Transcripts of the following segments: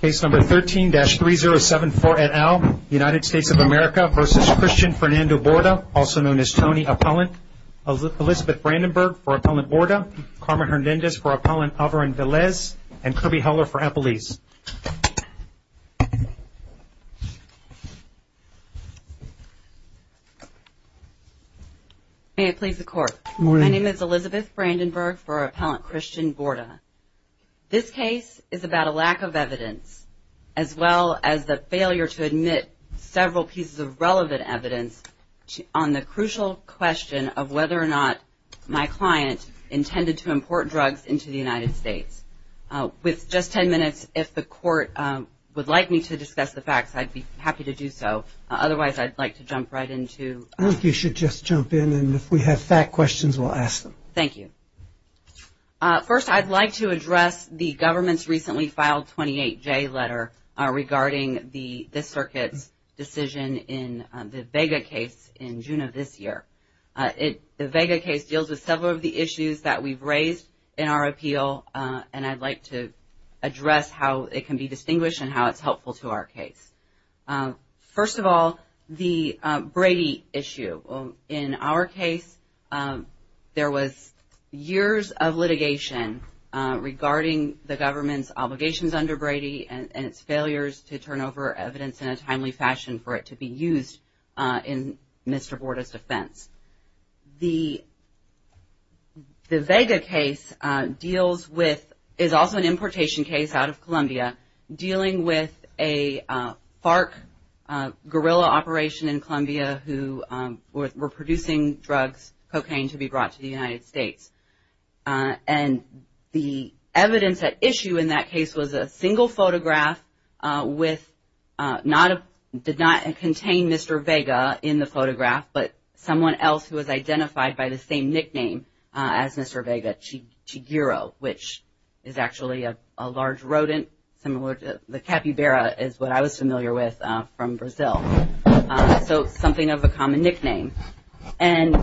Case number 13-3074 et al. United States of America v. Christian Fernando Borda, also known as Tony Appellant. Elizabeth Brandenburg for Appellant Borda, Carmen Hernandez for Appellant Alvarin-Velez, and Kirby Heller for Appellees. May it please the Court. My name is Elizabeth Brandenburg for Appellant Christian Borda. This case is about a lack of evidence as well as the failure to admit several pieces of relevant evidence on the crucial question of whether or not my client intended to import drugs into the United States. With just ten minutes, if the Court would like me to discuss the facts, I'd be happy to do so. Otherwise, I'd like to jump right into... I think you should just jump in, and if we have fact questions, we'll ask them. Thank you. First, I'd like to address the government's recently filed 28-J letter regarding the circuit's decision in the Vega case in June of this year. The Vega case deals with several of the issues that we've raised in our appeal, and I'd like to address how it can be distinguished and how it's helpful to our case. First of all, the Brady issue. In our case, there was years of litigation regarding the government's obligations under Brady and its failures to turn over evidence in a timely fashion for it to be used in Mr. Borda's defense. The Vega case is also an importation case out of Colombia, dealing with a FARC guerrilla operation in Colombia who were producing drugs, cocaine, to be brought to the United States. And the evidence at issue in that case was a single photograph with... someone else who was identified by the same nickname as Mr. Vega, Chiguero, which is actually a large rodent, similar to the capybara is what I was familiar with from Brazil, so something of a common nickname. And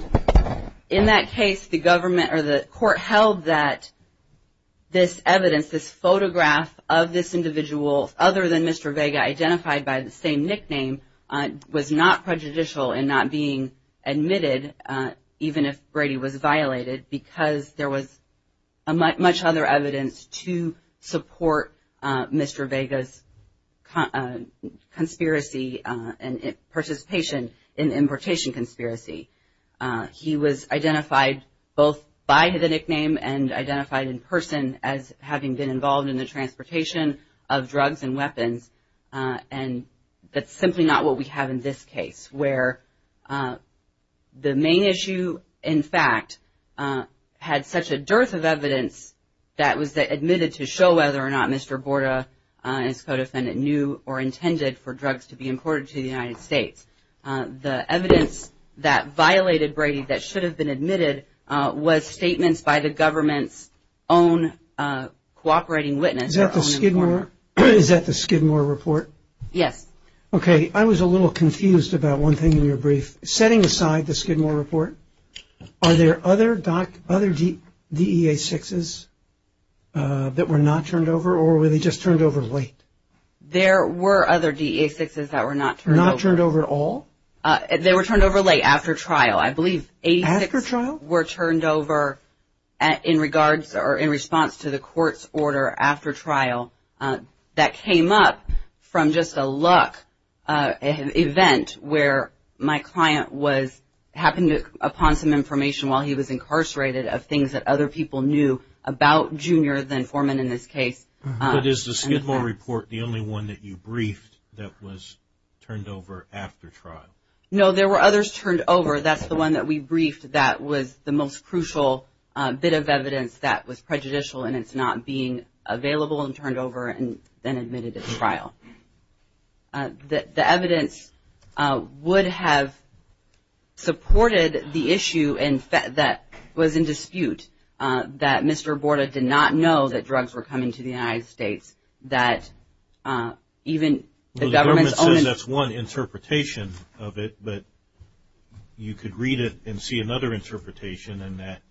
in that case, the government or the court held that this evidence, this photograph of this individual, other than Mr. Vega identified by the same nickname, was not prejudicial in not being admitted, even if Brady was violated because there was much other evidence to support Mr. Vega's conspiracy and participation in the importation conspiracy. He was identified both by the nickname and identified in person as having been involved in the transportation of drugs and weapons. And that's simply not what we have in this case, where the main issue, in fact, had such a dearth of evidence that was admitted to show whether or not Mr. Borda, his co-defendant, knew or intended for drugs to be imported to the United States. The evidence that violated Brady that should have been admitted was statements by the government's own cooperating witness. Is that the Skidmore report? Yes. Okay. I was a little confused about one thing in your brief. Setting aside the Skidmore report, are there other DEA-6s that were not turned over or were they just turned over late? There were other DEA-6s that were not turned over. Were they turned over at all? They were turned over late, after trial. I believe 86 were turned over in regards or in response to the court's order after trial. That came up from just a luck event where my client happened upon some information while he was incarcerated of things that other people knew about Junior, the informant in this case. But is the Skidmore report the only one that you briefed that was turned over after trial? No, there were others turned over. That's the one that we briefed that was the most crucial bit of evidence that was prejudicial and it's not being available and turned over and then admitted at trial. The evidence would have supported the issue that was in dispute, that Mr. Borda did not know that drugs were coming to the United States. The government says that's one interpretation of it, but you could read it and see another interpretation and that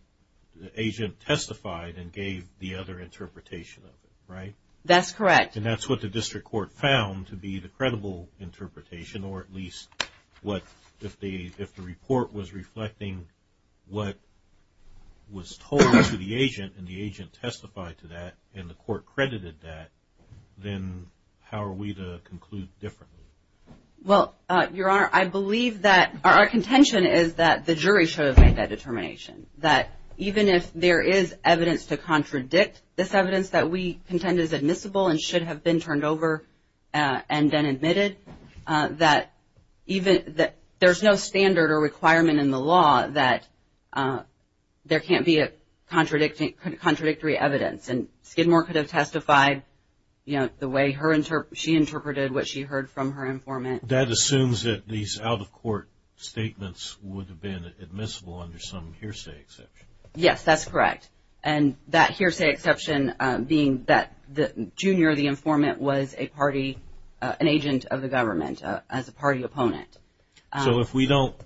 agent testified and gave the other interpretation of it, right? That's correct. And that's what the district court found to be the credible interpretation or at least if the report was reflecting what was told to the agent and the agent testified to that and the court credited that, then how are we to conclude differently? Well, Your Honor, I believe that our contention is that the jury should have made that determination, that even if there is evidence to contradict this evidence that we contend is admissible and should have been turned over and then admitted, that there's no standard or requirement in the law that there can't be contradictory evidence. And Skidmore could have testified the way she interpreted what she heard from her informant. That assumes that these out-of-court statements would have been admissible under some hearsay exception. Yes, that's correct. And that hearsay exception being that the junior, the informant, was a party, an agent of the government, as a party opponent. So if we don't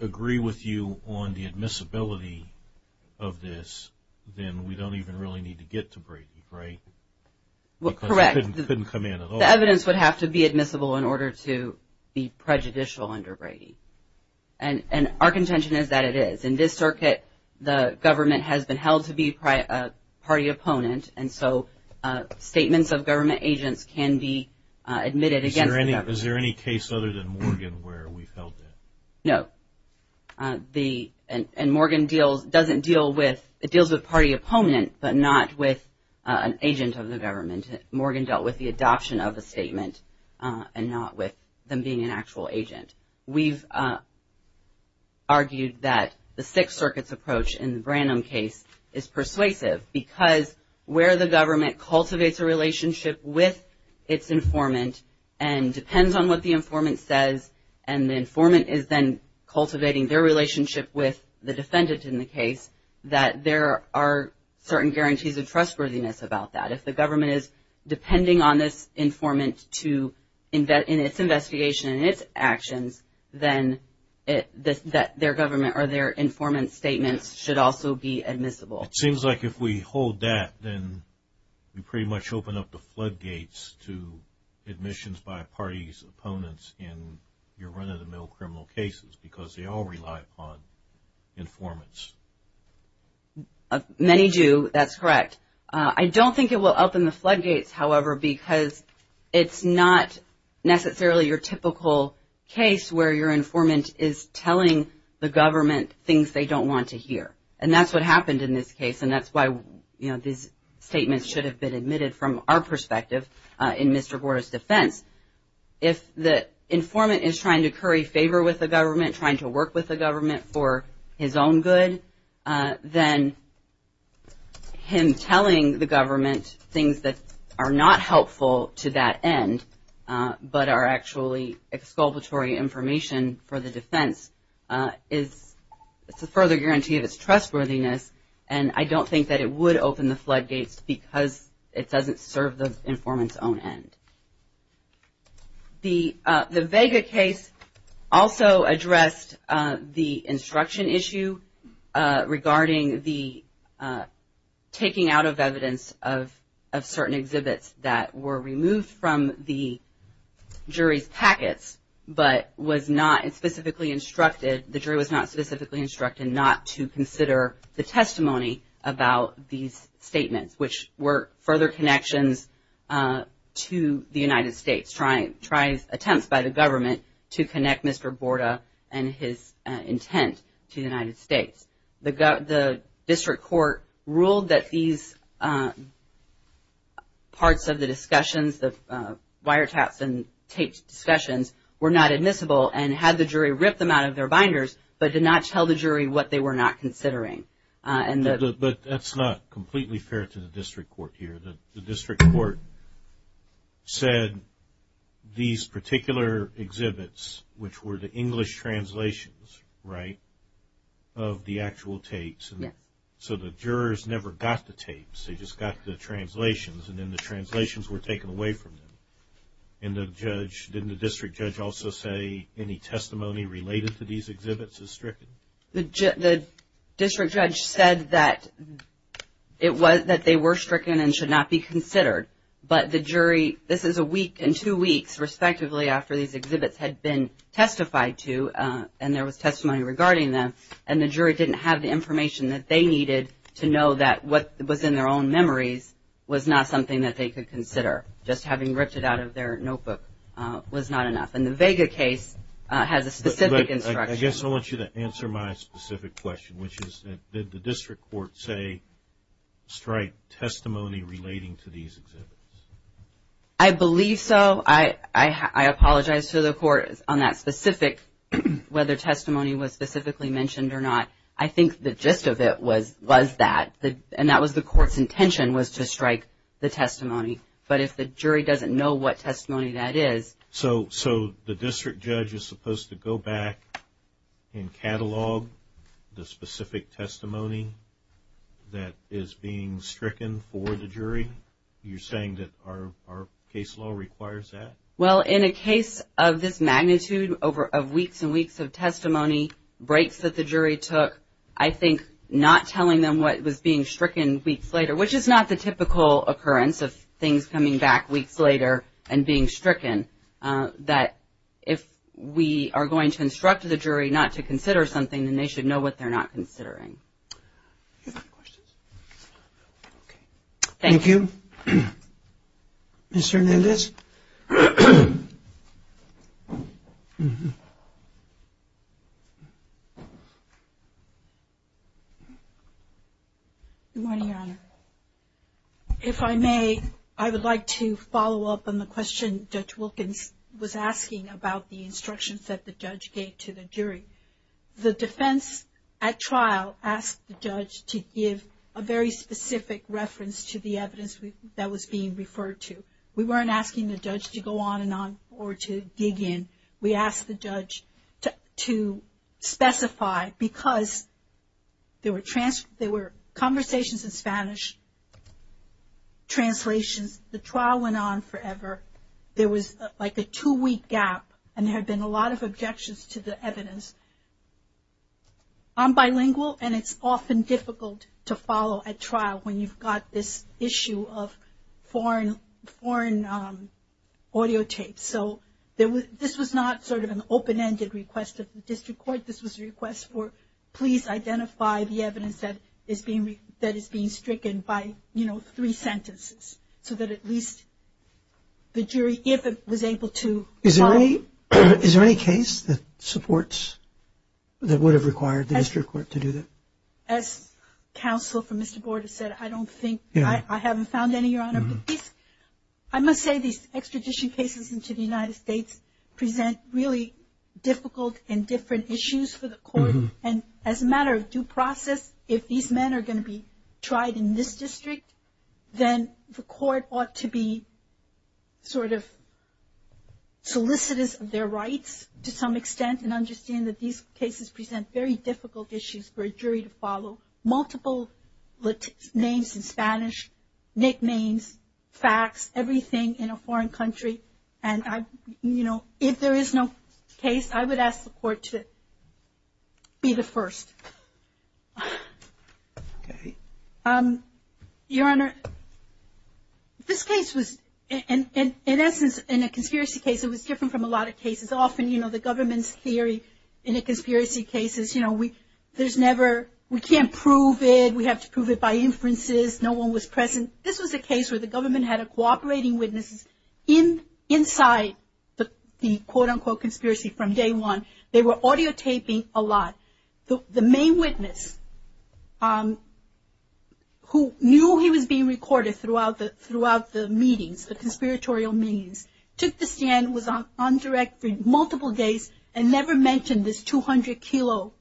agree with you on the admissibility of this, then we don't even really need to get to Brady, right? Correct. Because it couldn't come in at all. The evidence would have to be admissible in order to be prejudicial under Brady. And our contention is that it is. In this circuit, the government has been held to be a party opponent, and so statements of government agents can be admitted against the government. Is there any case other than Morgan where we've held that? No. And Morgan deals, doesn't deal with, it deals with party opponent, but not with an agent of the government. Morgan dealt with the adoption of a statement and not with them being an actual agent. We've argued that the Sixth Circuit's approach in the Branham case is persuasive because where the government cultivates a relationship with its informant and depends on what the informant says, and the informant is then cultivating their relationship with the defendant in the case, that there are certain guarantees of trustworthiness about that. If the government is depending on this informant in its investigation and its actions, then their government or their informant's statements should also be admissible. It seems like if we hold that, then we pretty much open up the floodgates to admissions by party's opponents in your run-of-the-mill criminal cases because they all rely upon informants. Many do. That's correct. I don't think it will open the floodgates, however, because it's not necessarily your typical case where your informant is telling the government things they don't want to hear. And that's what happened in this case, and that's why these statements should have been admitted from our perspective in Mr. Gordo's defense. If the informant is trying to curry favor with the government, trying to work with the government for his own good, then him telling the government things that are not helpful to that end, but are actually exculpatory information for the defense is a further guarantee of its trustworthiness. And I don't think that it would open the floodgates because it doesn't serve the informant's own end. The Vega case also addressed the instruction issue regarding the taking out of evidence of certain exhibits that were removed from the jury's packets, but was not specifically instructed, the jury was not specifically instructed not to consider the testimony about these statements, which were further connections to the United States, trying attempts by the government to connect Mr. Gordo and his intent to the United States. The district court ruled that these parts of the discussions, the wiretaps and taped discussions, were not admissible and had the jury rip them out of their binders, but did not tell the jury what they were not considering. But that's not completely fair to the district court here. The district court said these particular exhibits, which were the English translations, right, of the actual tapes, so the jurors never got the tapes, they just got the translations, and then the translations were taken away from them. And the judge, didn't the district judge also say any testimony related to these exhibits is stricken? The district judge said that they were stricken and should not be considered, but the jury, this is a week and two weeks respectively after these exhibits had been testified to, and there was testimony regarding them, and the jury didn't have the information that they needed to know that what was in their own memories was not something that they could consider, just having ripped it out of their notebook was not enough. And the Vega case has a specific instruction. I guess I want you to answer my specific question, which is did the district court say strike testimony relating to these exhibits? I believe so. I apologize to the court on that specific, whether testimony was specifically mentioned or not. I think the gist of it was that, and that was the court's intention, was to strike the testimony. But if the jury doesn't know what testimony that is. So the district judge is supposed to go back and catalog the specific testimony that is being stricken for the jury? You're saying that our case law requires that? Well, in a case of this magnitude, of weeks and weeks of testimony, breaks that the jury took, I think not telling them what was being stricken weeks later, which is not the typical occurrence of things coming back weeks later and being stricken, that if we are going to instruct the jury not to consider something, then they should know what they're not considering. Thank you. Mr. Hernandez? Good morning, Your Honor. If I may, I would like to follow up on the question Judge Wilkins was asking about the instructions that the judge gave to the jury. The defense at trial asked the judge to give a very specific reference to the evidence that was being referred to. We were not asking the judge to go on and on or to dig in. We asked the judge to specify, because there were conversations in Spanish, translations. The trial went on forever. There was like a two-week gap, and there had been a lot of objections to the evidence. I'm bilingual, and it's often difficult to follow at trial when you've got this issue of foreign audio tapes. So this was not sort of an open-ended request of the district court. This was a request for, please identify the evidence that is being stricken by, you know, three sentences, so that at least the jury, if it was able to follow. Is there any case that supports, that would have required the district court to do that? As counsel for Mr. Borda said, I don't think, I haven't found any, Your Honor. I must say these extradition cases into the United States present really difficult and different issues for the court. And as a matter of due process, if these men are going to be tried in this district, then the court ought to be sort of solicitors of their rights to some extent and understand that these cases present very difficult issues for a jury to follow. Multiple names in Spanish, nicknames, facts, everything in a foreign country. And, you know, if there is no case, I would ask the court to be the first. Okay. Your Honor, this case was, in essence, in a conspiracy case, it was different from a lot of cases. Often, you know, the government's theory in a conspiracy case is, you know, there's never, we can't prove it, we have to prove it by inferences, no one was present. This was a case where the government had cooperating witnesses inside the quote-unquote conspiracy from day one. They were audio taping a lot. The main witness, who knew he was being recorded throughout the meetings, the conspiratorial meetings, took the stand, was on direct for multiple days, and never mentioned this 200 kilo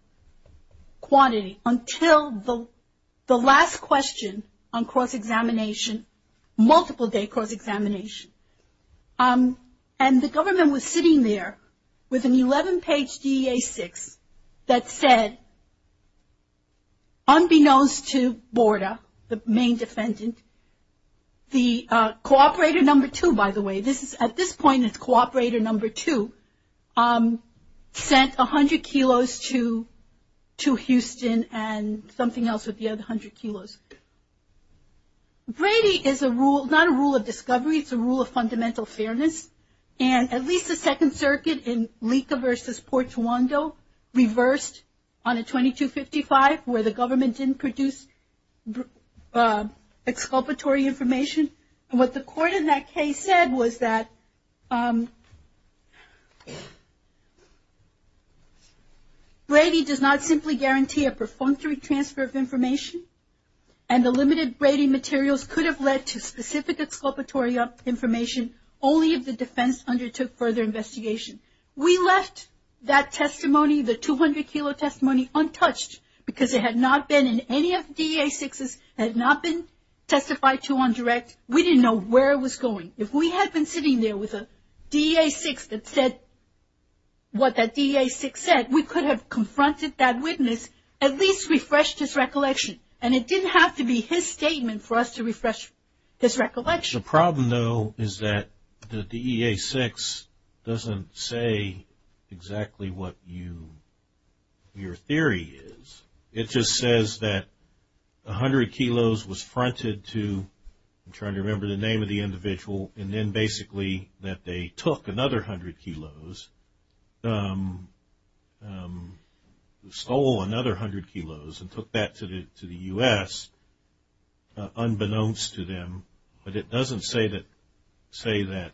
quantity until the last question on cross-examination, multiple-day cross-examination. And the government was sitting there with an 11-page DEA-6 that said, unbeknownst to Borda, the main defendant, the cooperator number two, by the way, at this point it's cooperator number two, sent 100 kilos to Houston and something else with the other 100 kilos. Brady is a rule, not a rule of discovery, it's a rule of fundamental fairness. And at least the Second Circuit in Licca versus Portuando reversed on a 2255, where the government didn't produce exculpatory information. And what the court in that case said was that Brady does not simply guarantee a perfunctory transfer of information, and the limited Brady materials could have led to specific exculpatory information only if the defense undertook further investigation. We left that testimony, the 200 kilo testimony, untouched because it had not been in any of the DEA-6s, had not been testified to on direct, we didn't know where it was going. If we had been sitting there with a DEA-6 that said what that DEA-6 said, we could have confronted that witness, at least refreshed his recollection. And it didn't have to be his statement for us to refresh his recollection. The problem, though, is that the DEA-6 doesn't say exactly what your theory is. It just says that 100 kilos was fronted to, I'm trying to remember the name of the individual, and then basically that they took another 100 kilos, stole another 100 kilos, and took that to the U.S. unbeknownst to them. But it doesn't say that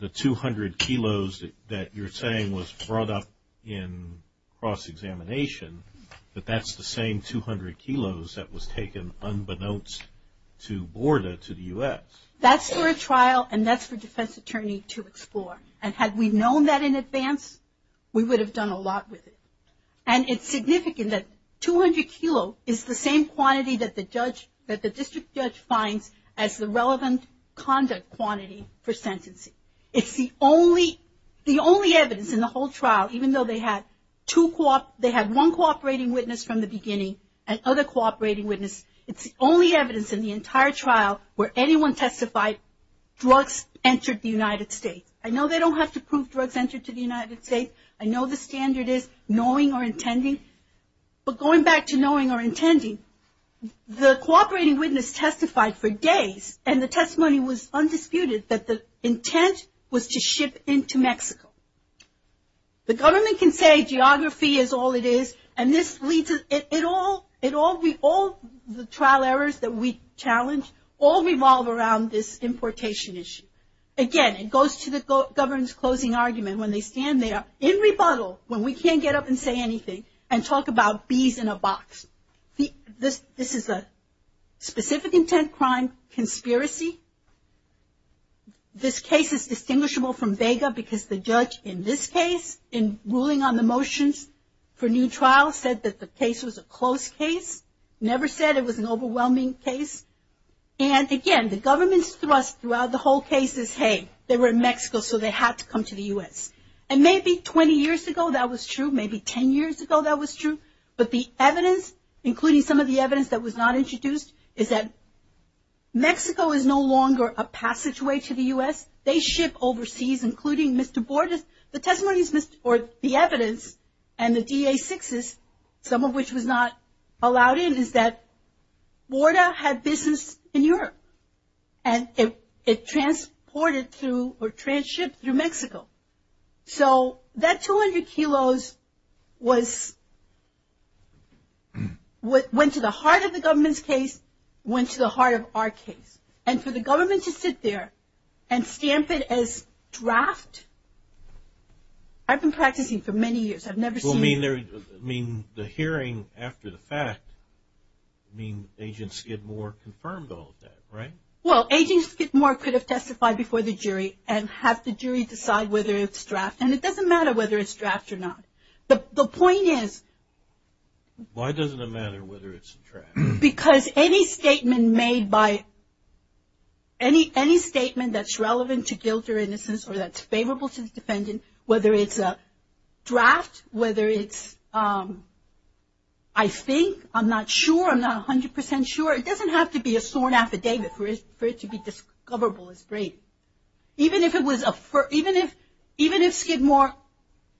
the 200 kilos that you're saying was brought up in cross-examination, that that's the same 200 kilos that was taken unbeknownst to Borda, to the U.S. That's for a trial, and that's for a defense attorney to explore. And had we known that in advance, we would have done a lot with it. And it's significant that 200 kilos is the same quantity that the district judge finds as the relevant conduct quantity for sentencing. It's the only evidence in the whole trial, even though they had one cooperating witness from the beginning and other cooperating witnesses. It's the only evidence in the entire trial where anyone testified drugs entered the United States. I know they don't have to prove drugs entered to the United States. I know the standard is knowing or intending. But going back to knowing or intending, the cooperating witness testified for days, and the testimony was undisputed that the intent was to ship into Mexico. The government can say geography is all it is, and this leads it all, all the trial errors that we challenge, all revolve around this importation issue. Again, it goes to the government's closing argument when they stand there in rebuttal, when we can't get up and say anything, and talk about bees in a box. This is a specific intent crime conspiracy. This case is distinguishable from Vega because the judge in this case, in ruling on the motions for new trials, said that the case was a close case. Never said it was an overwhelming case. And again, the government's thrust throughout the whole case is, hey, they were in Mexico, so they had to come to the U.S. And maybe 20 years ago that was true, maybe 10 years ago that was true, but the evidence, including some of the evidence that was not introduced, is that Mexico is no longer a passageway to the U.S. They ship overseas, including Mr. Borda's. The testimonies, or the evidence, and the DA6s, some of which was not allowed in, is that Borda had business in Europe, and it transported through or trans-shipped through Mexico. So that 200 kilos went to the heart of the government's case, went to the heart of our case. And for the government to sit there and stamp it as draft, I've been practicing for many years. I mean, the hearing after the fact, I mean, Agent Skidmore confirmed all of that, right? Well, Agent Skidmore could have testified before the jury and have the jury decide whether it's draft. And it doesn't matter whether it's draft or not. The point is... Why doesn't it matter whether it's draft? Because any statement made by... any statement that's relevant to guilt or innocence or that's favorable to the defendant, whether it's a draft, whether it's, I think, I'm not sure, I'm not 100% sure, it doesn't have to be a sworn affidavit for it to be discoverable as Brady. Even if Skidmore...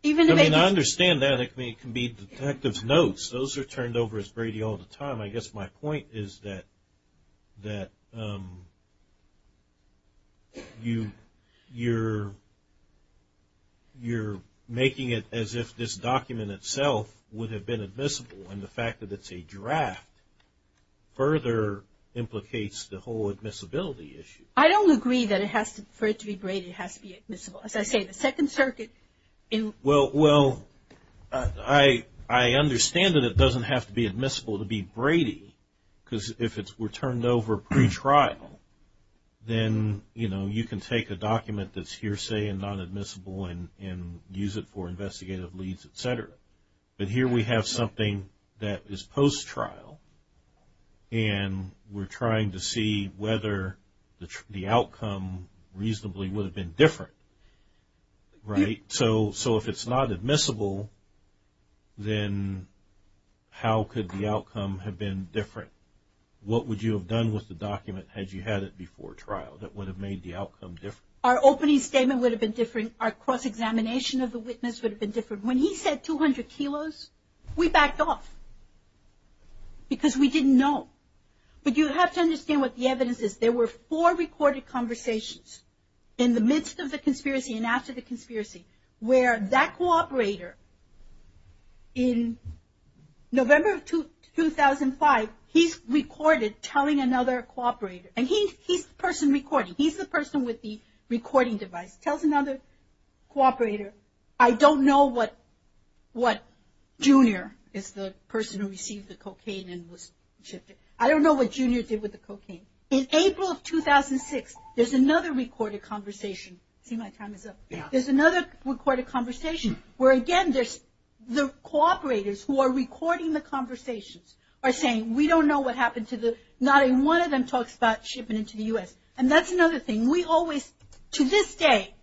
I mean, I understand that. It can be detective notes. Those are turned over as Brady all the time. I guess my point is that you're making it as if this document itself would have been admissible. And the fact that it's a draft further implicates the whole admissibility issue. I don't agree that for it to be Brady it has to be admissible. As I say, the Second Circuit... Well, I understand that it doesn't have to be admissible to be Brady, because if it were turned over pretrial, then you can take a document that's hearsay and non-admissible and use it for investigative leads, et cetera. But here we have something that is post-trial, and we're trying to see whether the outcome reasonably would have been different. Right. So if it's not admissible, then how could the outcome have been different? What would you have done with the document had you had it before trial that would have made the outcome different? Our opening statement would have been different. Our cross-examination of the witness would have been different. When he said 200 kilos, we backed off because we didn't know. But you have to understand what the evidence is. There were four recorded conversations in the midst of the conspiracy and after the conspiracy where that cooperator, in November of 2005, he's recorded telling another cooperator, and he's the person recording. He's the person with the recording device. Tells another cooperator, I don't know what Junior is the person who received the cocaine and was shifted. I don't know what Junior did with the cocaine. In April of 2006, there's another recorded conversation. See, my time is up. Yeah. There's another recorded conversation where, again, there's the cooperators who are recording the conversations are saying, we don't know what happened to the, not even one of them talks about shipping into the U.S. And that's another thing. We always, to this day,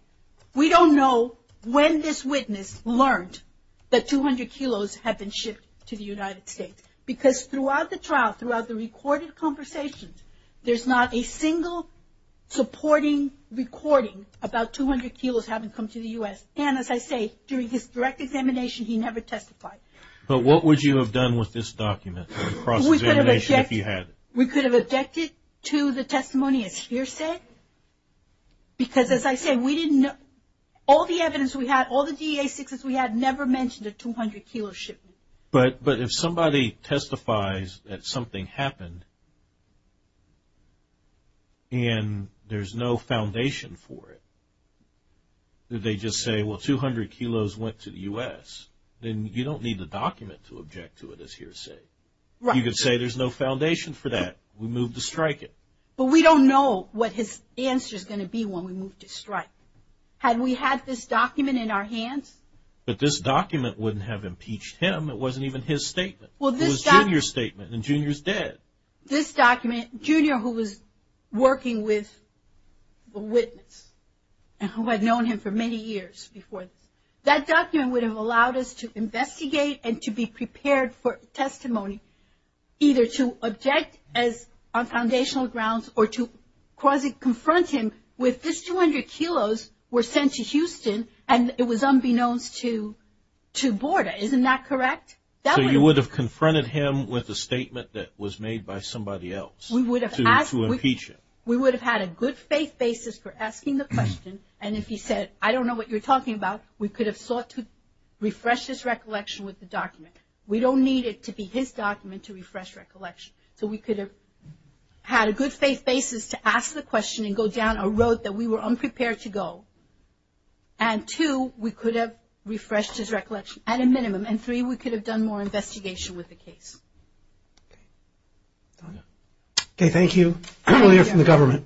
we don't know when this witness learned that 200 kilos had been shipped to the United States. Because throughout the trial, throughout the recorded conversations, there's not a single supporting recording about 200 kilos having come to the U.S. And, as I say, during his direct examination, he never testified. But what would you have done with this document, the cross-examination, if you had? We could have objected to the testimony as fear said. Because, as I say, we didn't know. All the evidence we had, all the DEA successes we had, never mentioned a 200 kilo shipment. But if somebody testifies that something happened and there's no foundation for it, did they just say, well, 200 kilos went to the U.S., then you don't need the document to object to it as fear said. Right. You could say there's no foundation for that. We moved to strike it. But we don't know what his answer is going to be when we move to strike. Had we had this document in our hands? But this document wouldn't have impeached him. It wasn't even his statement. It was Junior's statement, and Junior's dead. This document, Junior, who was working with the witness, and who had known him for many years before this, that document would have allowed us to investigate and to be prepared for testimony, either to object on foundational grounds or to confront him with this 200 kilos were sent to Houston, and it was unbeknownst to Borda. Isn't that correct? So you would have confronted him with a statement that was made by somebody else to impeach him. We would have had a good faith basis for asking the question, and if he said, I don't know what you're talking about, we could have sought to refresh his recollection with the document. We don't need it to be his document to refresh recollection. So we could have had a good faith basis to ask the question and go down a road that we were unprepared to go. And two, we could have refreshed his recollection at a minimum, and three, we could have done more investigation with the case. Okay, thank you. We'll hear from the government.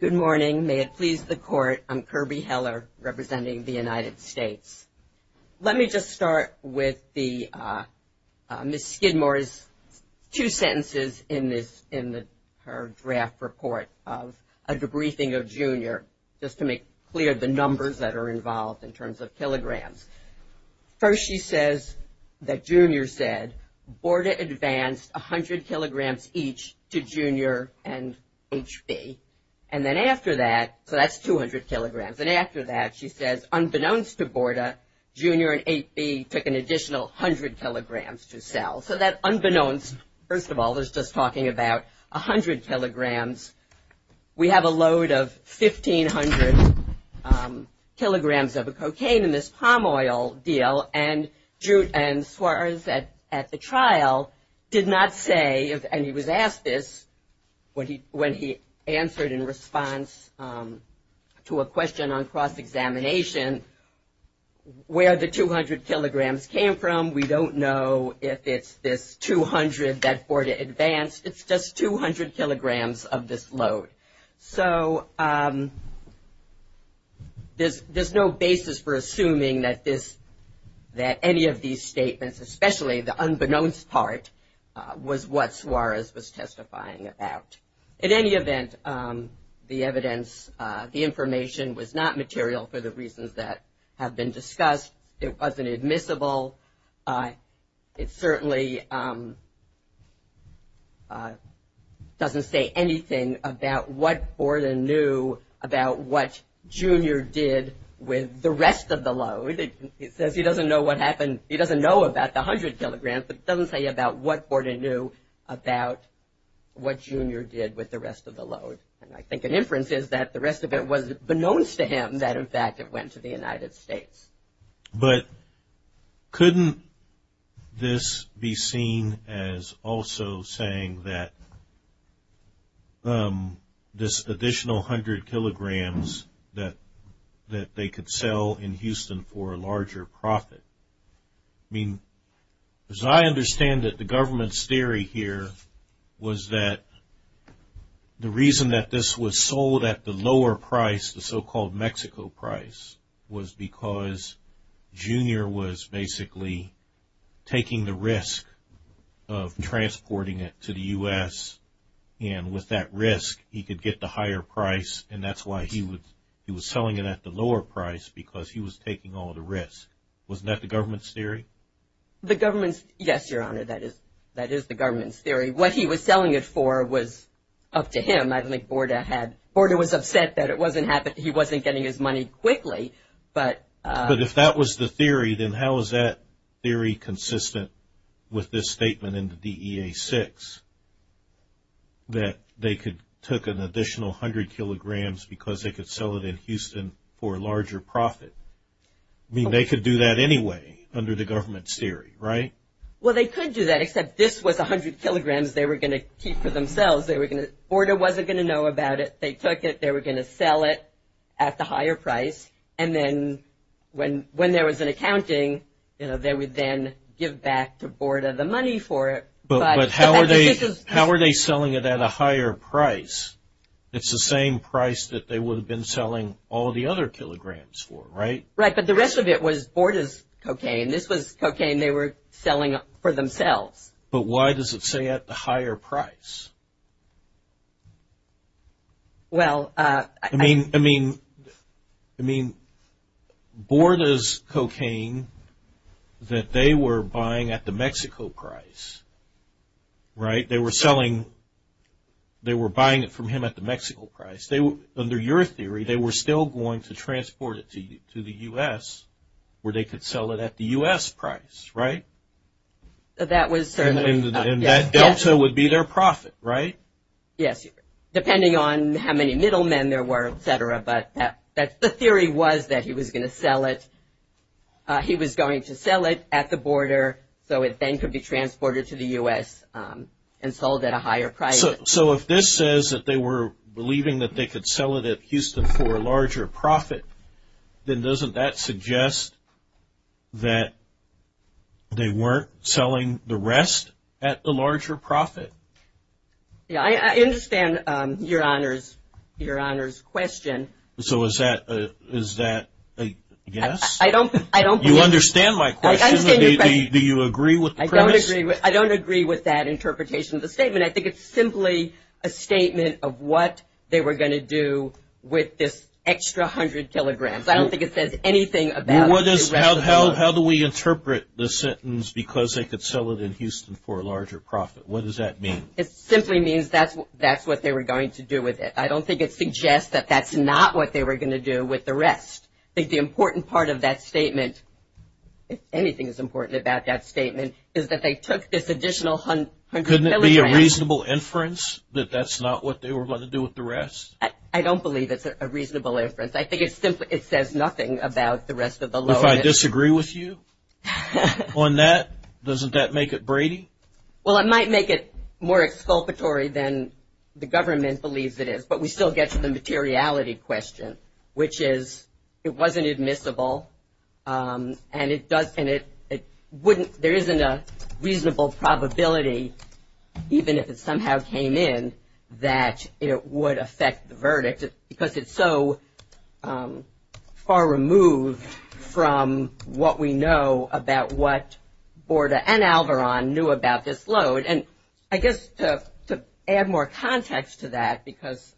Good morning. May it please the Court, I'm Kirby Heller representing the United States. Let me just start with Ms. Skidmore's two sentences in her draft report of a debriefing of Junior, just to make clear the numbers that are involved in terms of kilograms. First, she says that Junior said Borda advanced 100 kilograms each to Junior and HB. And then after that, so that's 200 kilograms. And after that, she says, unbeknownst to Borda, Junior and HB took an additional 100 kilograms to sell. So that unbeknownst, first of all, is just talking about 100 kilograms. We have a load of 1,500 kilograms of cocaine in this palm oil deal, and Jute and Suarez at the trial did not say, and he was asked this when he answered in response to a question on cross-examination, where the 200 kilograms came from. We don't know if it's this 200 that Borda advanced. It's just 200 kilograms of this load. So there's no basis for assuming that any of these statements, especially the unbeknownst part, was what Suarez was testifying about. In any event, the evidence, the information was not material for the reasons that have been discussed. It wasn't admissible. It certainly doesn't say anything about what Borda knew about what Junior did with the rest of the load. It says he doesn't know what happened. He doesn't know about the 100 kilograms, but it doesn't say about what Borda knew about what Junior did with the rest of the load. And I think an inference is that the rest of it was beknownst to him that, in fact, it went to the United States. But couldn't this be seen as also saying that this additional 100 kilograms that they could sell in Houston for a larger profit? I mean, as I understand it, the government's theory here was that the reason that this was sold at the lower price, the so-called Mexico price, was because Junior was basically taking the risk of transporting it to the U.S. And with that risk, he could get the higher price, and that's why he was selling it at the lower price, because he was taking all the risk. Wasn't that the government's theory? The government's – yes, Your Honor, that is the government's theory. What he was selling it for was up to him. I think Borda had – Borda was upset that it wasn't – he wasn't getting his money quickly. But if that was the theory, then how is that theory consistent with this statement in the DEA-6, that they could – took an additional 100 kilograms because they could sell it in Houston for a larger profit? I mean, they could do that anyway under the government's theory, right? Well, they could do that, except this was 100 kilograms they were going to keep for themselves. They were going to – Borda wasn't going to know about it. They took it. They were going to sell it at the higher price. And then when there was an accounting, you know, they would then give back to Borda the money for it. But how are they selling it at a higher price? It's the same price that they would have been selling all the other kilograms for, right? Right, but the rest of it was Borda's cocaine. This was cocaine they were selling for themselves. But why does it say at the higher price? Well – I mean, Borda's cocaine that they were buying at the Mexico price, right? They were selling – they were buying it from him at the Mexico price. Under your theory, they were still going to transport it to the U.S. where they could sell it at the U.S. price, right? That was certainly – And that delta would be their profit, right? Yes, depending on how many middlemen there were, et cetera. But the theory was that he was going to sell it – he was going to sell it at the Borda so it then could be transported to the U.S. and sold at a higher price. So if this says that they were believing that they could sell it at Houston for a larger profit, then doesn't that suggest that they weren't selling the rest at the larger profit? Yeah, I understand Your Honor's question. So is that a guess? I don't – You understand my question? I understand your question. Do you agree with the premise? I don't agree with that interpretation of the statement. I think it's simply a statement of what they were going to do with this extra 100 kilograms. I don't think it says anything about – How do we interpret the sentence because they could sell it in Houston for a larger profit? What does that mean? It simply means that's what they were going to do with it. I don't think it suggests that that's not what they were going to do with the rest. I think the important part of that statement, if anything is important about that statement, is that they took this additional 100 kilograms – Couldn't it be a reasonable inference that that's not what they were going to do with the rest? I don't believe it's a reasonable inference. I think it simply – it says nothing about the rest of the lower – If I disagree with you on that, doesn't that make it Brady? Well, it might make it more exculpatory than the government believes it is, but we still get to the materiality question, which is it wasn't admissible and there isn't a reasonable probability, even if it somehow came in, that it would affect the verdict because it's so far removed from what we know about what Borda and Alvaron knew about this load. And I guess to add more context to that, because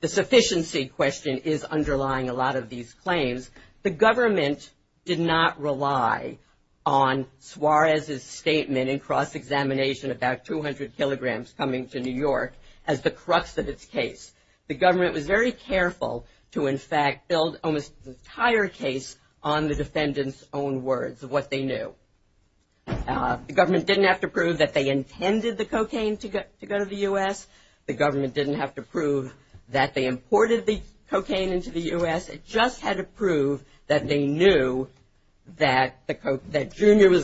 the sufficiency question is underlying a lot of these claims, the government did not rely on Suarez's statement in cross-examination about 200 kilograms coming to New York as the crux of its case. The government was very careful to, in fact, build almost an entire case on the defendants' own words of what they knew. The government didn't have to prove that they intended the cocaine to go to the U.S. The government didn't have to prove that they imported the cocaine into the U.S. It just had to prove that they knew that Junior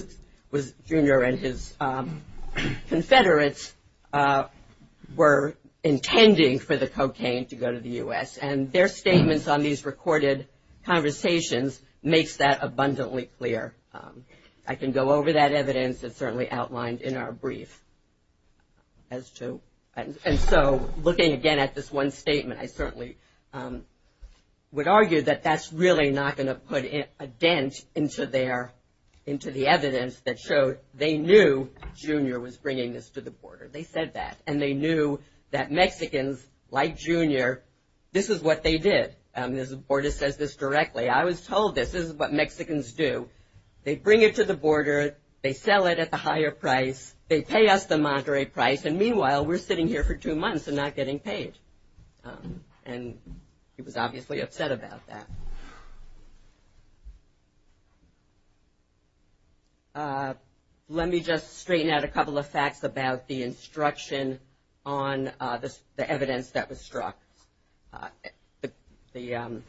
and his confederates were intending for the cocaine to go to the U.S. And their statements on these recorded conversations makes that abundantly clear. I can go over that evidence. It's certainly outlined in our brief. That's two. And so, looking again at this one statement, I certainly would argue that that's really not going to put a dent into the evidence that showed they knew Junior was bringing this to the border. They said that. And they knew that Mexicans, like Junior, this is what they did. Borda says this directly. I was told this. This is what Mexicans do. They bring it to the border. They sell it at the higher price. They pay us the moderate price. And meanwhile, we're sitting here for two months and not getting paid. And he was obviously upset about that. Let me just straighten out a couple of facts about the instruction on the evidence that was struck. Mr.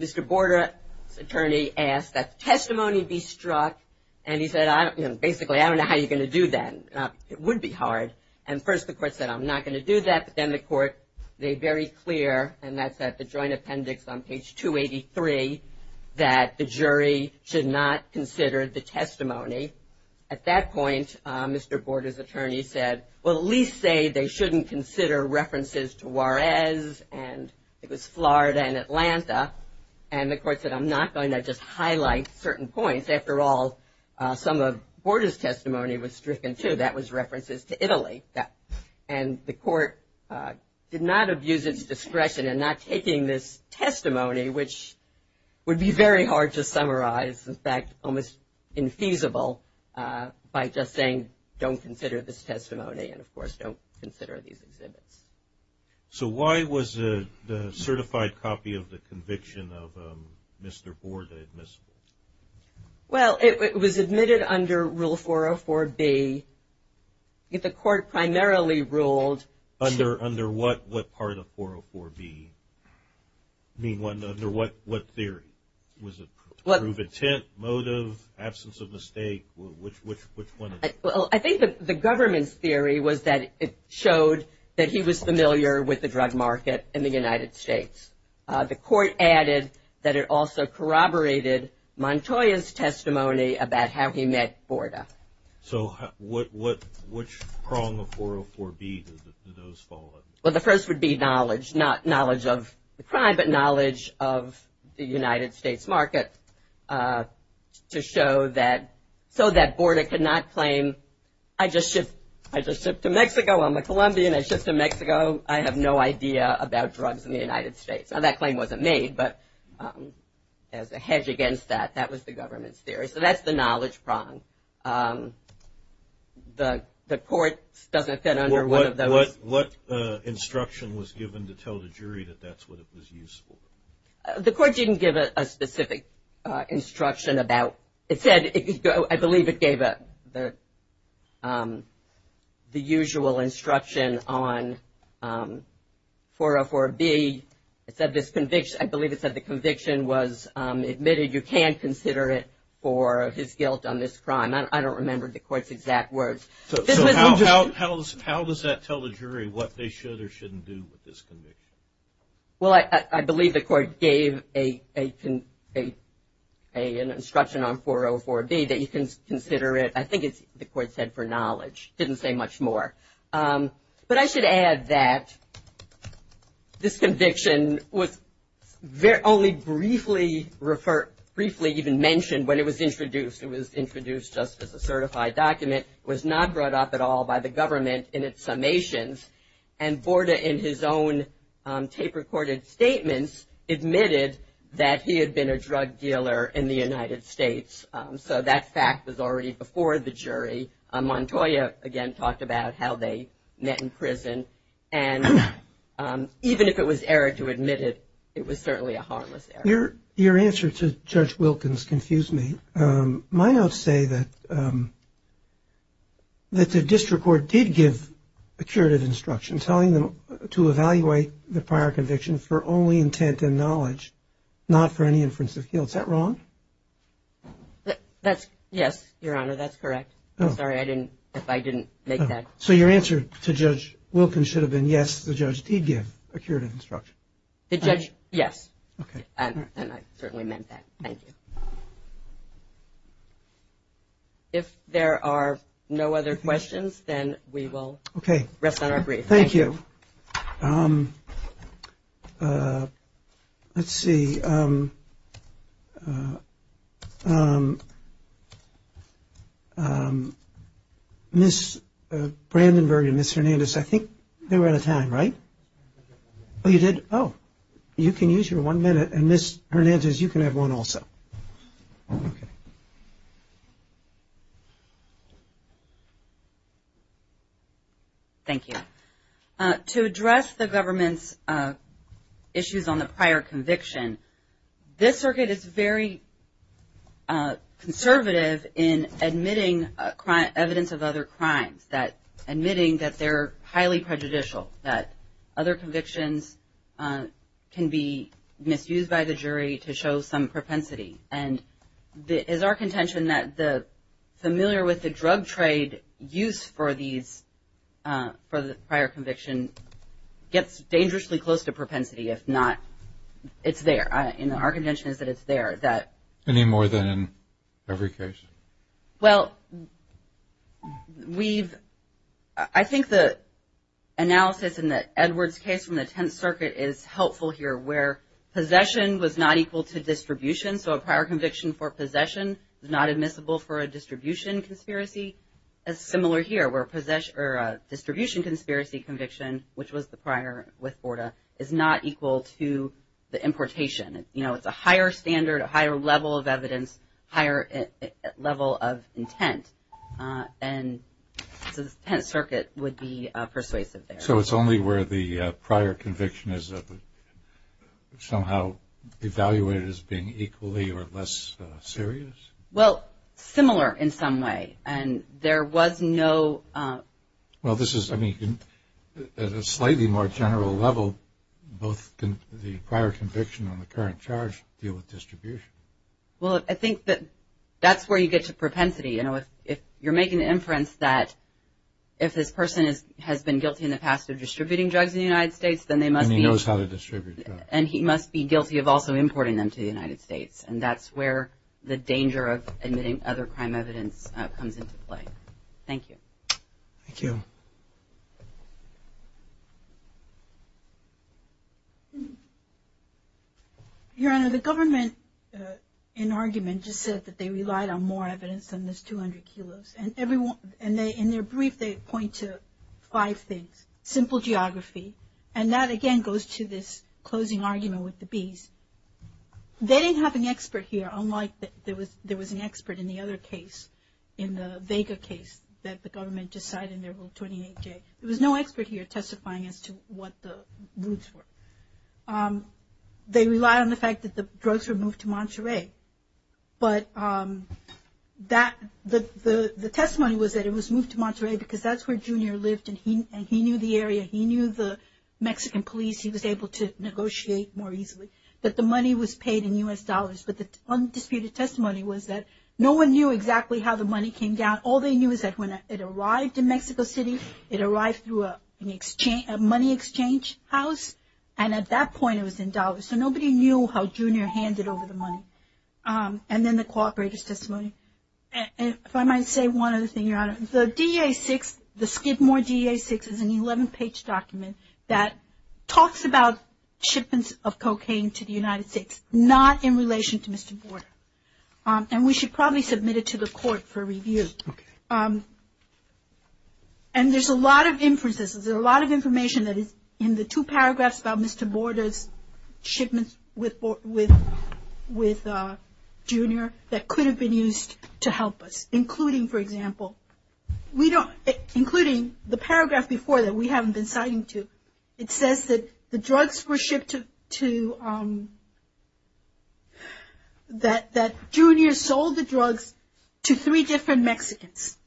Borda's attorney asked that testimony be struck. And he said, basically, I don't know how you're going to do that. It would be hard. And, first, the court said, I'm not going to do that. But then the court made very clear, and that's at the joint appendix on page 283, that the jury should not consider the testimony. At that point, Mr. Borda's attorney said, well, at least say they shouldn't consider references to Juarez and it was Florida and Atlanta. And the court said, I'm not going to just highlight certain points. After all, some of Borda's testimony was stricken, too. That was references to Italy. And the court did not abuse its discretion in not taking this testimony, which would be very hard to summarize. In fact, almost infeasible by just saying don't consider this testimony and, of course, don't consider these exhibits. So why was the certified copy of the conviction of Mr. Borda admissible? Well, it was admitted under Rule 404B. The court primarily ruled to – Under what? What part of 404B? I mean, under what theory? Was it to prove intent, motive, absence of mistake? Which one? Well, I think the government's theory was that it showed that he was familiar with the drug market in the United States. The court added that it also corroborated Montoya's testimony about how he met Borda. So which prong of 404B did those fall under? Well, the first would be knowledge, not knowledge of the crime, but knowledge of the United States market to show that – so that Borda could not claim I just shipped to Mexico, I'm a Colombian, I shipped to Mexico, I have no idea about drugs in the United States. Now, that claim wasn't made, but as a hedge against that, that was the government's theory. So that's the knowledge prong. The court doesn't fit under one of those. What instruction was given to tell the jury that that's what it was used for? The court didn't give a specific instruction about – it said – I believe it gave the usual instruction on 404B. It said this conviction – I believe it said the conviction was admitted. You can't consider it for his guilt on this crime. I don't remember the court's exact words. So how does that tell the jury what they should or shouldn't do with this conviction? Well, I believe the court gave an instruction on 404B that you can consider it – I think the court said for knowledge. It didn't say much more. But I should add that this conviction was only briefly even mentioned when it was introduced. It was introduced just as a certified document. It was not brought up at all by the government in its summations. And Borda, in his own tape-recorded statements, admitted that he had been a drug dealer in the United States. So that fact was already before the jury. Montoya, again, talked about how they met in prison. And even if it was error to admit it, it was certainly a harmless error. Your answer to Judge Wilkins confused me. My notes say that the district court did give a curative instruction telling them to evaluate the prior conviction for only intent and knowledge, not for any inference of guilt. Is that wrong? Yes, Your Honor, that's correct. I'm sorry if I didn't make that. So your answer to Judge Wilkins should have been, yes, the judge did give a curative instruction. The judge, yes. And I certainly meant that. Thank you. If there are no other questions, then we will rest on our brief. Thank you. Let's see. Ms. Brandenburg and Ms. Hernandez, I think they were out of time, right? Oh, you did? Oh, you can use your one minute. And Ms. Hernandez, you can have one also. Thank you. To address the government's issues on the prior conviction, this circuit is very conservative in admitting evidence of other crimes, admitting that they're highly prejudicial, that other convictions can be misused by the jury to show some propensity. And is our contention that the familiar with the drug trade use for the prior conviction gets dangerously close to propensity? If not, it's there. Our contention is that it's there. Any more than in every case? Well, I think the analysis in the Edwards case from the Tenth Circuit is helpful here, where possession was not equal to distribution, so a prior conviction for possession is not admissible for a distribution conspiracy. It's similar here, where a distribution conspiracy conviction, which was the prior with Borda, is not equal to the importation. You know, it's a higher standard, a higher level of evidence, higher level of intent. And the Tenth Circuit would be persuasive there. So it's only where the prior conviction is somehow evaluated as being equally or less serious? Well, similar in some way. And there was no – Well, this is – I mean, at a slightly more general level, both the prior conviction and the current charge deal with distribution. Well, I think that that's where you get to propensity. You know, if you're making the inference that if this person has been guilty in the past of distributing drugs in the United States, then they must be – And he knows how to distribute drugs. And he must be guilty of also importing them to the United States. And that's where the danger of admitting other crime evidence comes into play. Thank you. Thank you. Your Honor, the government, in argument, just said that they relied on more evidence than this 200 kilos. And in their brief, they point to five things. Simple geography. And that, again, goes to this closing argument with the bees. They didn't have an expert here, unlike there was an expert in the other case, in the Vega case that the government just cited in their Rule 28-J. There was no expert here testifying as to what the roots were. They relied on the fact that the drugs were moved to Monterey. But that – the testimony was that it was moved to Monterey because that's where Junior lived. And he knew the area. He knew the Mexican police. He was able to negotiate more easily. That the money was paid in U.S. dollars. But the undisputed testimony was that no one knew exactly how the money came down. All they knew is that when it arrived in Mexico City, it arrived through a money exchange house. And at that point, it was in dollars. So nobody knew how Junior handed over the money. And then the cooperators' testimony. If I might say one other thing, Your Honor. The DEA-6, the Skidmore DEA-6 is an 11-page document that talks about shipments of cocaine to the United States, not in relation to Mr. Borda. And we should probably submit it to the court for review. And there's a lot of inferences. There's a lot of information that is in the two paragraphs about Mr. Borda's shipments with Junior that could have been used to help us. Including, for example, we don't – including the paragraph before that we haven't been citing to. It says that the drugs were shipped to – that Junior sold the drugs to three different Mexicans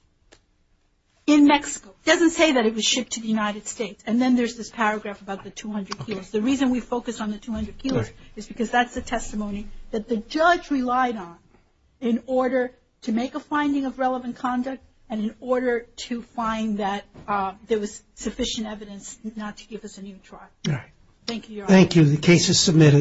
in Mexico. It doesn't say that it was shipped to the United States. And then there's this paragraph about the 200 kilos. The reason we focus on the 200 kilos is because that's the testimony that the judge relied on in order to make a finding of relevant conduct and in order to find that there was sufficient evidence not to give us a new trial. Thank you, Your Honor. Thank you. The case is submitted.